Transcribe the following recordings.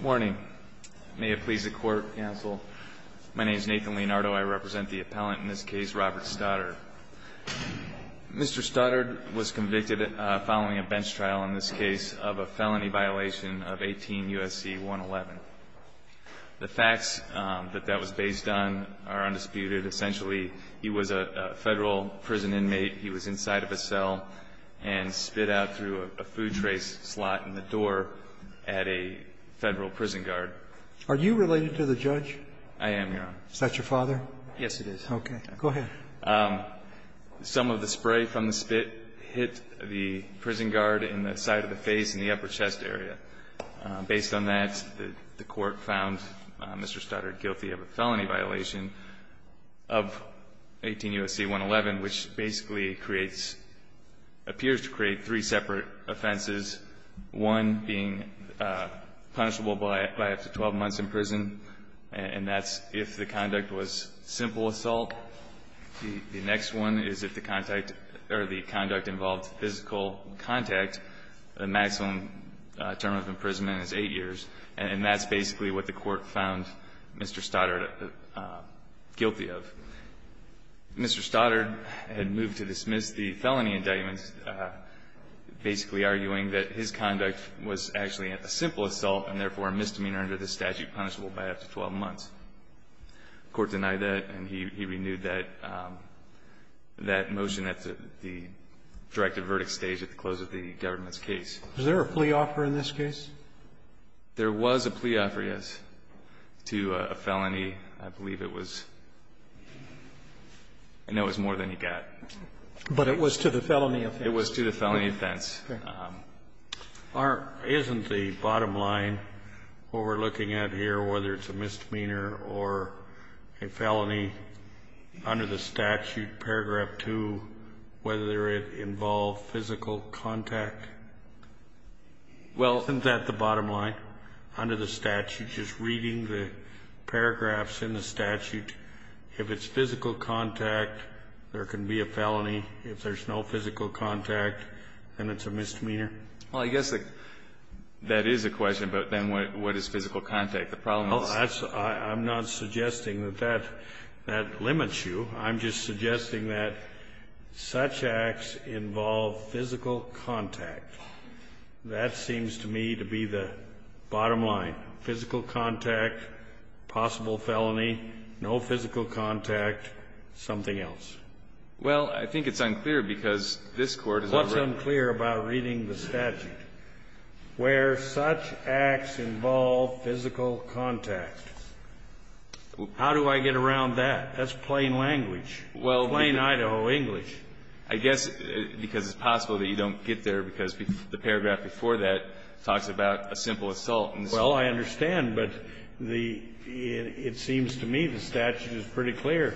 Morning. May it please the Court, Counsel. My name is Nathan Leonardo. I represent the appellant in this case, Robert Stoddard. Mr. Stoddard was convicted following a bench trial in this case of a felony violation of 18 U.S.C. 111. The facts that that was based on are undisputed. Essentially, he was a federal prison inmate. He was inside of a cell and spit out through a food trace slot in the door at a federal prison guard. Are you related to the judge? I am, Your Honor. Is that your father? Yes, it is. Okay. Go ahead. Some of the spray from the spit hit the prison guard in the side of the face and the upper chest area. Based on that, the Court found Mr. Stoddard guilty of a felony violation of 18 U.S.C. 111, which basically creates, appears to create three separate offenses, one being punishable by up to 12 months in prison, and that's if the conduct was simple assault. The next one is if the contact or the conduct involved physical contact, the maximum term of imprisonment is 8 years, and that's basically what the Court found Mr. Stoddard guilty of. Mr. Stoddard had moved to dismiss the felony indictment, basically arguing that his conduct was actually a simple assault and therefore a misdemeanor under the statute punishable by up to 12 months. The Court denied that, and he renewed that motion at the directive verdict stage at the close of the government's case. Was there a plea offer in this case? There was a plea offer, yes, to a felony. I believe it was, I know it was more than he got. But it was to the felony offense. It was to the felony offense. Isn't the bottom line what we're looking at here, whether it's a misdemeanor or a felony under the statute, paragraph 2, whether it involved physical contact? Well, isn't that the bottom line? Under the statute, just reading the paragraphs in the statute, if it's physical contact, there can be a felony. If there's no physical contact, then it's a misdemeanor? Well, I guess that is a question, but then what is physical contact? The problem is? I'm not suggesting that that limits you. I'm just suggesting that such acts involve physical contact. That seems to me to be the bottom line, physical contact, possible felony, no physical contact, something else. Well, I think it's unclear, because this Court has already. What's unclear about reading the statute? Where such acts involve physical contact. How do I get around that? That's plain language. Well. Plain Idaho English. I guess because it's possible that you don't get there because the paragraph before that talks about a simple assault. Well, I understand, but it seems to me the statute is pretty clear.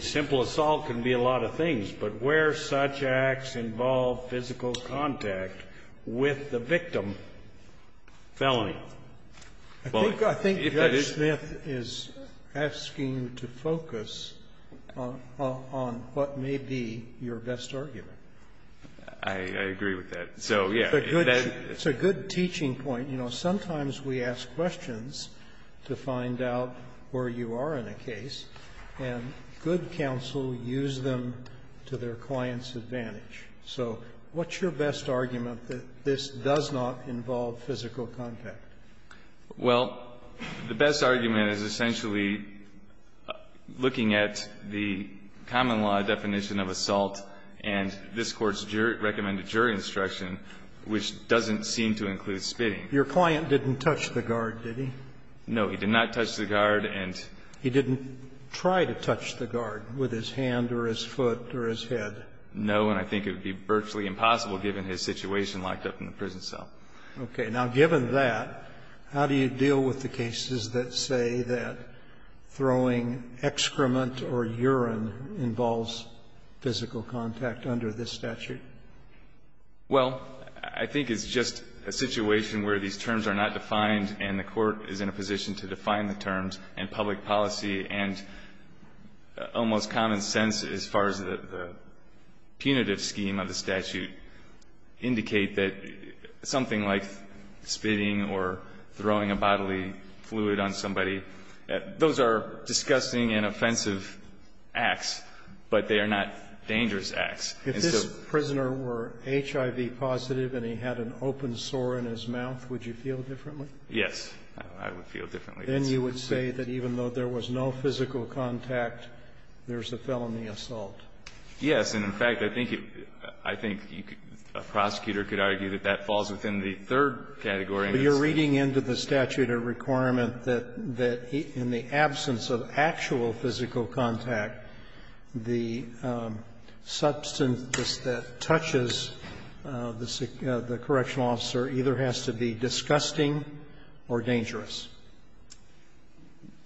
Simple assault can be a lot of things. But where such acts involve physical contact with the victim, felony. I think Judge Smith is asking you to focus on what may be your best argument. I agree with that. So, yes. It's a good teaching point. You know, sometimes we ask questions to find out where you are in a case, and good counsel use them to their client's advantage. So what's your best argument that this does not involve physical contact? Well, the best argument is essentially looking at the common law definition of assault and this Court's recommended jury instruction, which doesn't seem to include physical contact. And so I think that's the case. Your client didn't touch the guard, did he? No. He did not touch the guard. And he didn't try to touch the guard with his hand or his foot or his head? No. And I think it would be virtually impossible, given his situation locked up in the situation where these terms are not defined and the court is in a position to define the terms and public policy and almost common sense as far as the punitive scheme of the statute indicate that something like spitting or throwing a bodily fluid on somebody, those are disgusting and offensive acts, but they are not dangerous acts. If this prisoner were HIV positive and he had an open sore in his mouth, would you feel differently? Yes. I would feel differently. Then you would say that even though there was no physical contact, there's a felony assault. Yes. And, in fact, I think you can, a prosecutor could argue that that falls within the third category. But you're reading into the statute a requirement that in the absence of actual physical contact, the substance that touches the correctional officer either has to be disgusting or dangerous.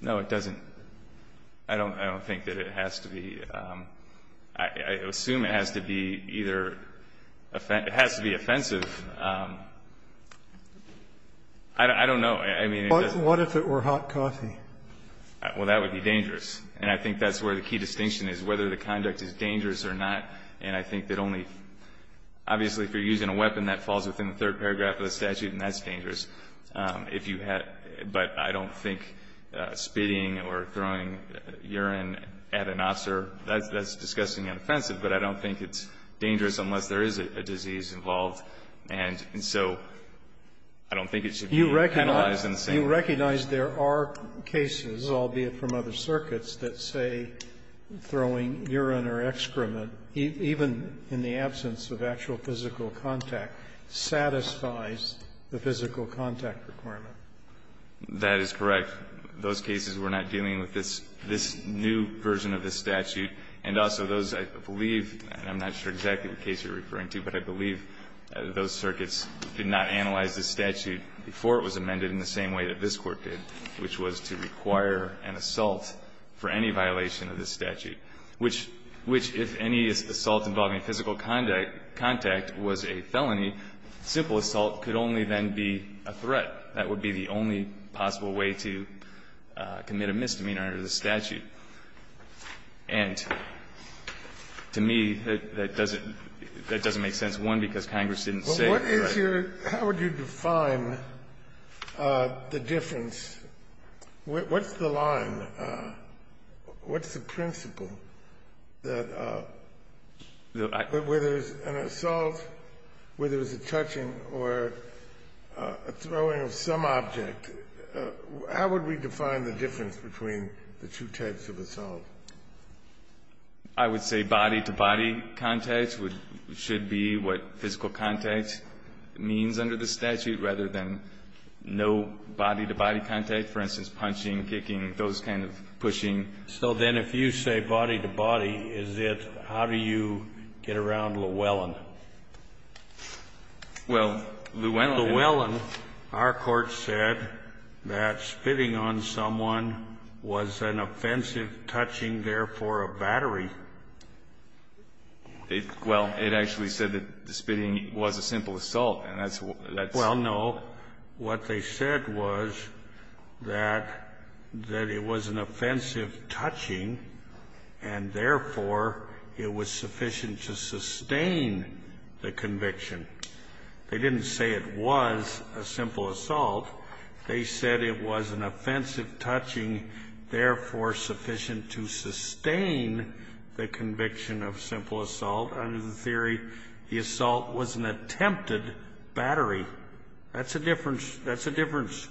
No, it doesn't. I don't think that it has to be. I assume it has to be either offensive. It has to be offensive. I don't know. I mean, it doesn't. What if it were hot coffee? Well, that would be dangerous. And I think that's where the key distinction is, whether the conduct is dangerous or not. And I think that only – obviously, if you're using a weapon, that falls within the third paragraph of the statute, and that's dangerous. If you had – but I don't think spitting or throwing urine at an officer, that's disgusting and offensive. But I don't think it's dangerous unless there is a disease involved. And so I don't think it should be penalized in the same way. Sotomayor, do you recognize there are cases, albeit from other circuits, that say throwing urine or excrement, even in the absence of actual physical contact, satisfies the physical contact requirement? That is correct. Those cases were not dealing with this new version of the statute. And also those, I believe, and I'm not sure exactly the case you're referring to, but I believe those circuits did not analyze the statute before it was amended in the same way that this Court did, which was to require an assault for any violation of this statute, which, if any assault involving physical contact was a felony, simple assault could only then be a threat. That would be the only possible way to commit a misdemeanor under the statute. And to me, that doesn't make sense, one, because Congress didn't say, right. How would you define the difference? What's the line? What's the principle that whether it's an assault, whether it's a touching or a throwing of some object, how would we define the difference between the two types of assault? I would say body-to-body contact should be what physical contact means under the statute rather than no body-to-body contact. For instance, punching, kicking, those kind of pushing. So then if you say body-to-body, is it how do you get around Llewellyn? Well, Llewellyn, our Court said that spitting on someone was an offensive touching therefore a battery. Well, it actually said that the spitting was a simple assault. And that's what that's. Well, no. What they said was that it was an offensive touching and therefore it was sufficient to sustain the conviction. They didn't say it was a simple assault. They said it was an offensive touching, therefore sufficient to sustain the conviction of simple assault. Under the theory, the assault was an attempted battery. That's a difference. That's a difference.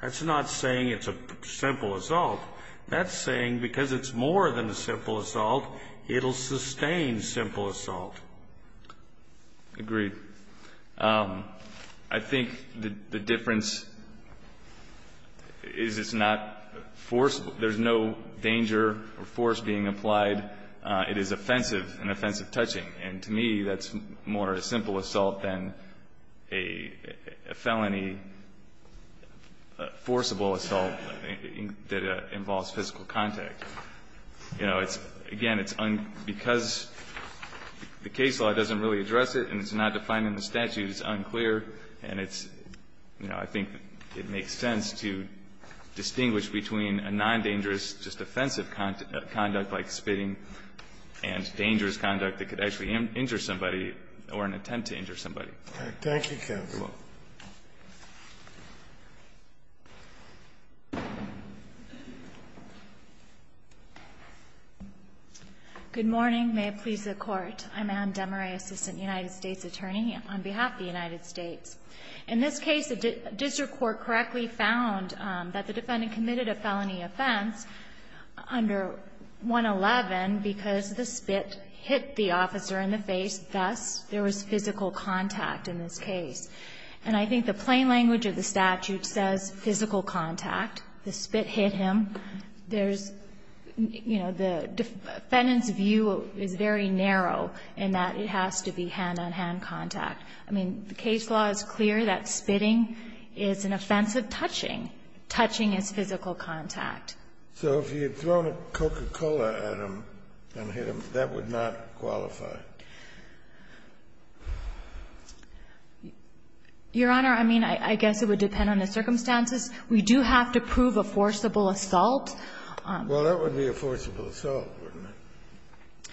That's not saying it's a simple assault. That's saying because it's more than a simple assault, it'll sustain simple assault. Agreed. I think the difference is it's not forceful. There's no danger or force being applied. It is offensive, an offensive touching. And to me, that's more a simple assault than a felony forcible assault that involves physical contact. You know, it's, again, it's because the case law doesn't really address it and it's not finding the statute is unclear. And it's, you know, I think it makes sense to distinguish between a non-dangerous just offensive conduct like spitting and dangerous conduct that could actually injure somebody or an attempt to injure somebody. Thank you, counsel. You're welcome. Good morning. May it please the Court. I'm Ann DeMarais, Assistant United States Attorney on behalf of the United States. In this case, the district court correctly found that the defendant committed a felony offense under 111 because the spit hit the officer in the face, thus there was physical contact in this case. And I think the plain language of the statute says physical contact. The spit hit him. There's, you know, the defendant's view is very narrow in that it has to be hand-on-hand contact. I mean, the case law is clear that spitting is an offensive touching. Touching is physical contact. So if you had thrown a Coca-Cola at him and hit him, that would not qualify? Your Honor, I mean, I guess it would depend on the circumstances. We do have to prove a forcible assault. Well, that would be a forcible assault, wouldn't it?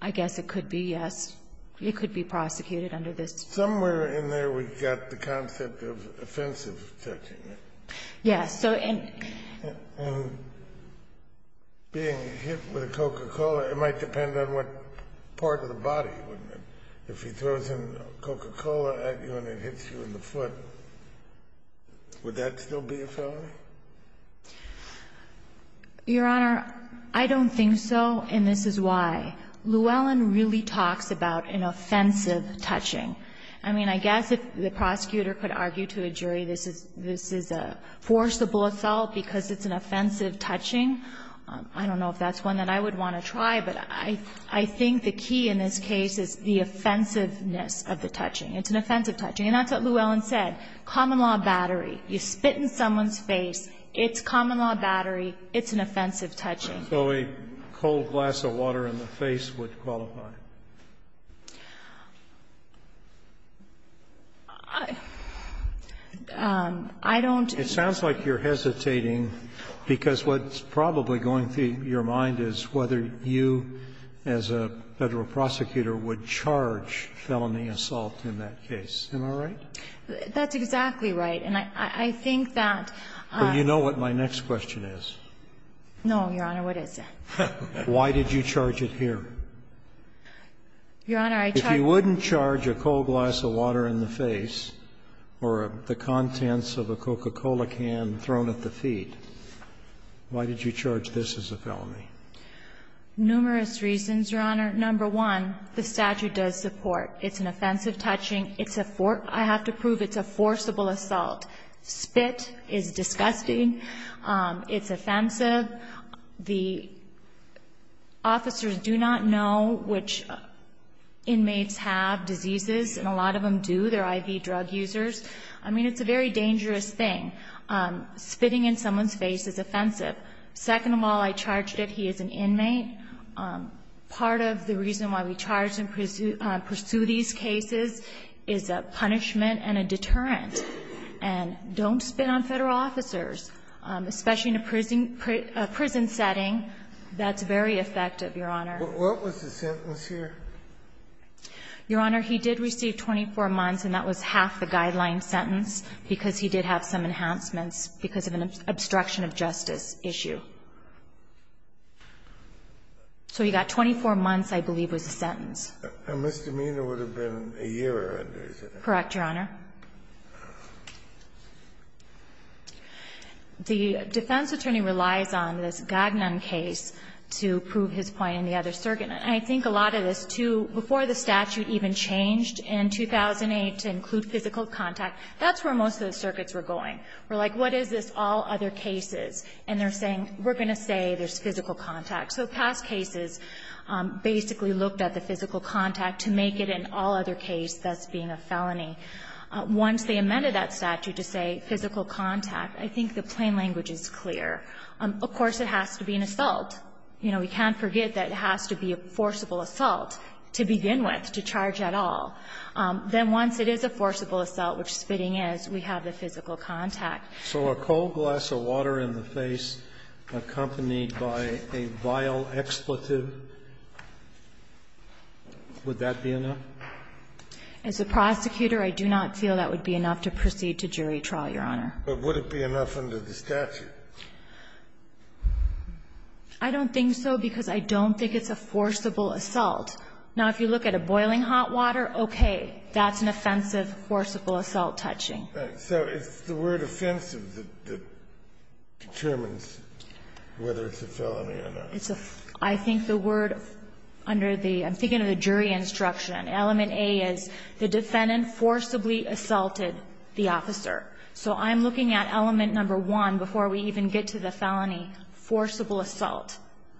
I guess it could be, yes. It could be prosecuted under this. Somewhere in there we've got the concept of offensive touching. Yes. And being hit with a Coca-Cola, it might depend on what part of the body, wouldn't it? If he throws a Coca-Cola at you and it hits you in the foot, would that still be a felony? Your Honor, I don't think so, and this is why. Llewellyn really talks about an offensive touching. I mean, I guess if the prosecutor could argue to a jury this is a forcible assault because it's an offensive touching, I don't know if that's one that I would want to try. But I think the key in this case is the offensiveness of the touching. It's an offensive touching. And that's what Llewellyn said. Common law battery. You spit in someone's face. It's common law battery. It's an offensive touching. So a cold glass of water in the face would qualify? I don't. It sounds like you're hesitating because what's probably going through your mind is whether you, as a Federal prosecutor, would charge felony assault in that case. Am I right? That's exactly right. And I think that. Well, you know what my next question is. No, Your Honor, what is it? Why did you charge it here? Your Honor, I charge. If you wouldn't charge a cold glass of water in the face or the contents of a Coca-Cola can thrown at the feet, why did you charge this as a felony? Numerous reasons, Your Honor. Number one, the statute does support. It's an offensive touching. I have to prove it's a forcible assault. Spit is disgusting. It's offensive. The officers do not know which inmates have diseases, and a lot of them do. They're IV drug users. I mean, it's a very dangerous thing. Spitting in someone's face is offensive. Second of all, I charged it. He is an inmate. Part of the reason why we charge and pursue these cases is a punishment and a deterrent. And don't spit on Federal officers, especially in a prison setting. That's very effective, Your Honor. What was the sentence here? Your Honor, he did receive 24 months, and that was half the guideline sentence because he did have some enhancements because of an obstruction of justice issue. So he got 24 months, I believe, was the sentence. And misdemeanor would have been a year or under, is that right? Correct, Your Honor. The defense attorney relies on this Gagnon case to prove his point in the other circuit. And I think a lot of this, too, before the statute even changed in 2008 to include physical contact, that's where most of the circuits were going. We're like, what is this all other cases? And they're saying, we're going to say there's physical contact. So past cases basically looked at the physical contact to make it an all other case thus being a felony. Once they amended that statute to say physical contact, I think the plain language is clear. Of course, it has to be an assault. You know, we can't forget that it has to be a forcible assault to begin with to charge et al. Then once it is a forcible assault, which spitting is, we have the physical contact. So a cold glass of water in the face accompanied by a vial expletive, would that be enough? As a prosecutor, I do not feel that would be enough to proceed to jury trial, Your Honor. But would it be enough under the statute? I don't think so, because I don't think it's a forcible assault. Now, if you look at a boiling hot water, okay, that's an offensive forcible assault touching. So it's the word offensive that determines whether it's a felony or not. It's a ---- I think the word under the ---- I'm thinking of the jury instruction. Element A is the defendant forcibly assaulted the officer. So I'm looking at element number one before we even get to the felony, forcible assault.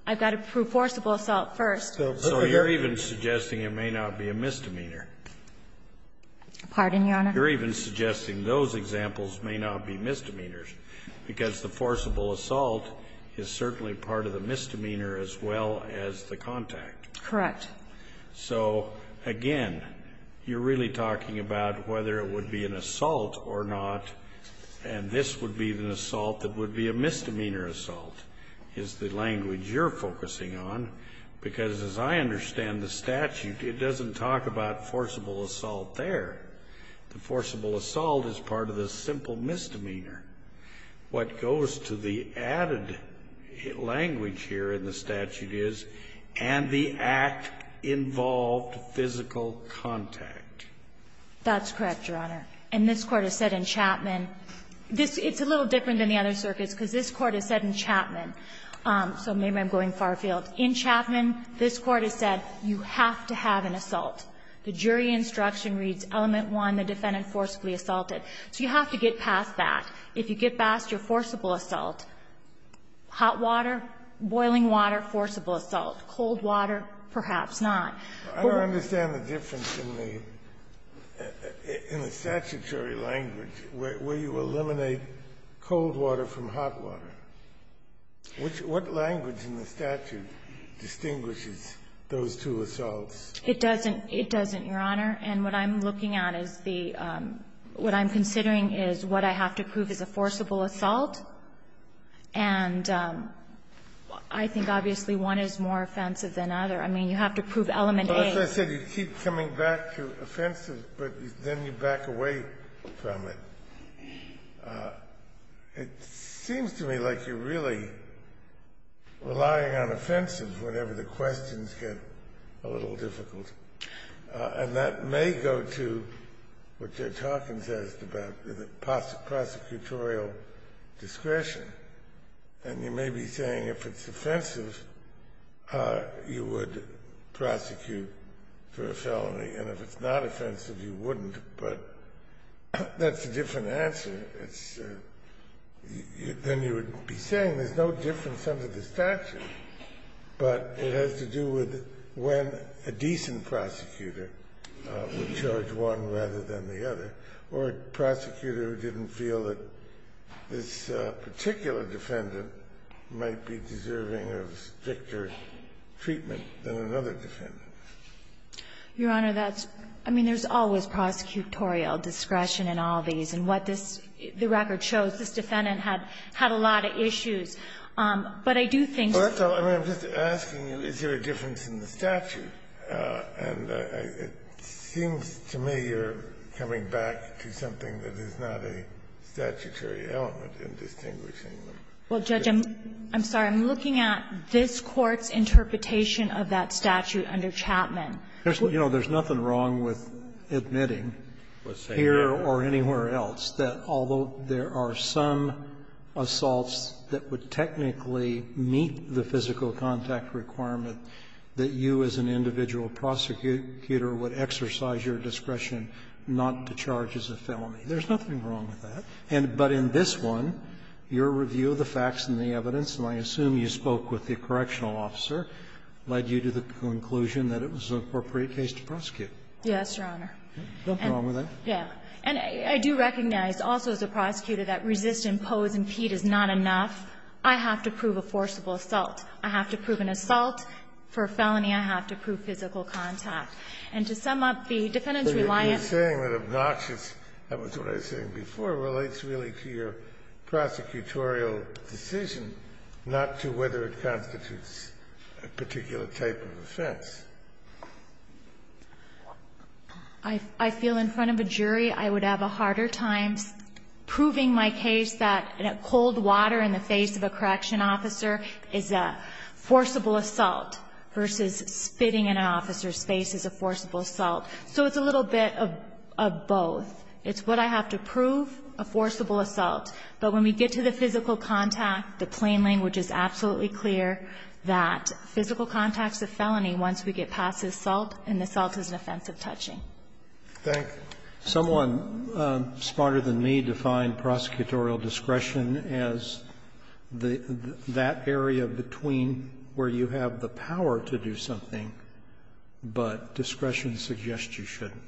I've got to prove forcible assault first. So you're even suggesting it may not be a misdemeanor. Pardon, Your Honor? You're even suggesting those examples may not be misdemeanors, because the forcible assault is certainly part of the misdemeanor as well as the contact. Correct. So, again, you're really talking about whether it would be an assault or not, and this would be an assault that would be a misdemeanor assault, is the language you're focusing on, because as I understand the statute, it doesn't talk about forcible assault there. The forcible assault is part of the simple misdemeanor. What goes to the added language here in the statute is, and the act involved physical contact. That's correct, Your Honor. And this Court has said in Chapman ---- it's a little different than the other circuits because this Court has said in Chapman, so maybe I'm going far afield. In Chapman, this Court has said you have to have an assault. The jury instruction reads element one, the defendant forcibly assaulted. So you have to get past that. If you get past your forcible assault, hot water, boiling water, forcible assault. Cold water, perhaps not. I don't understand the difference in the statutory language where you eliminate cold water from hot water. What language in the statute distinguishes those two assaults? It doesn't. It doesn't, Your Honor. And what I'm looking at is the ---- what I'm considering is what I have to prove is a forcible assault, and I think obviously one is more offensive than the other. I mean, you have to prove element A. But as I said, you keep coming back to offensive, but then you back away from it. It seems to me like you're really relying on offensive whenever the questions get a little difficult. And that may go to what Judge Hawkins asked about the prosecutorial discretion. And you may be saying if it's offensive, you would prosecute for a felony, and if it's not offensive, you wouldn't. But that's a different answer. It's a ---- then you would be saying there's no difference under the statute, but it has to do with when a decent prosecutor would charge one rather than the other or a prosecutor who didn't feel that this particular defendant might be deserving of stricter treatment than another defendant. Your Honor, that's ---- I mean, there's always prosecutorial discretion in all these. And what this ---- the record shows, this defendant had a lot of issues. But I do think ---- Well, that's all. I mean, I'm just asking you, is there a difference in the statute? And it seems to me you're coming back to something that is not a statutory element in distinguishing them. Well, Judge, I'm sorry. I'm looking at this Court's interpretation of that statute under Chapman. You know, there's nothing wrong with admitting here or anywhere else that although there are some assaults that would technically meet the physical contact requirement that you as an individual prosecutor would exercise your discretion not to charge as a felony. There's nothing wrong with that. But in this one, your review of the facts and the evidence, and I assume you spoke with the correctional officer, led you to the conclusion that it was an appropriate case to prosecute. Yes, Your Honor. There's nothing wrong with that. Yes. And I do recognize also as a prosecutor that resist, impose, impede is not enough. I have to prove a forcible assault. I have to prove an assault. For a felony, I have to prove physical contact. And to sum up, the defendant's reliance ---- You're saying that obnoxious, that was what I was saying before, relates really to your prosecutorial decision, not to whether it constitutes a particular type of offense. I feel in front of a jury I would have a harder time proving my case that cold water in the face of a correctional officer is a forcible assault versus spitting in an officer's face is a forcible assault. So it's a little bit of both. It's what I have to prove, a forcible assault. But when we get to the physical contact, the plain language is absolutely clear that physical contact is a felony once we get past the assault, and the assault is an offense of touching. Thank you. Someone smarter than me defined prosecutorial discretion as that area between where you have the power to do something, but discretion suggests you shouldn't.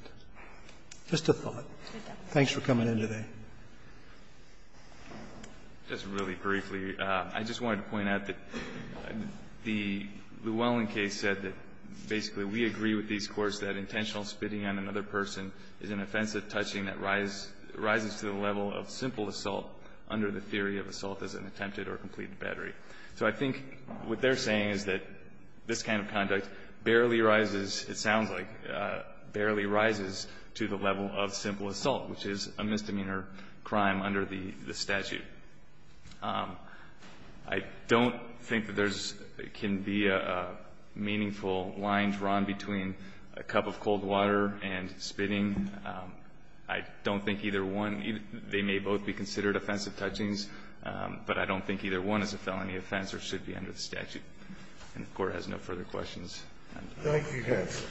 Just a thought. Thanks for coming in today. Just really briefly, I just wanted to point out that the Llewellyn case said that basically we agree with these courts that intentional spitting on another person is an offense of touching that rises to the level of simple assault under the theory of assault as an attempted or completed battery. So I think what they're saying is that this kind of conduct barely rises, it sounds like, barely rises to the level of simple assault, which is a misdemeanor crime under the statute. I don't think that there can be a meaningful line drawn between a cup of cold water and spitting. I don't think either one, they may both be considered offensive touchings, but I don't think either one is a felony offense or should be under the statute. And the court has no further questions. Thank you, counsel.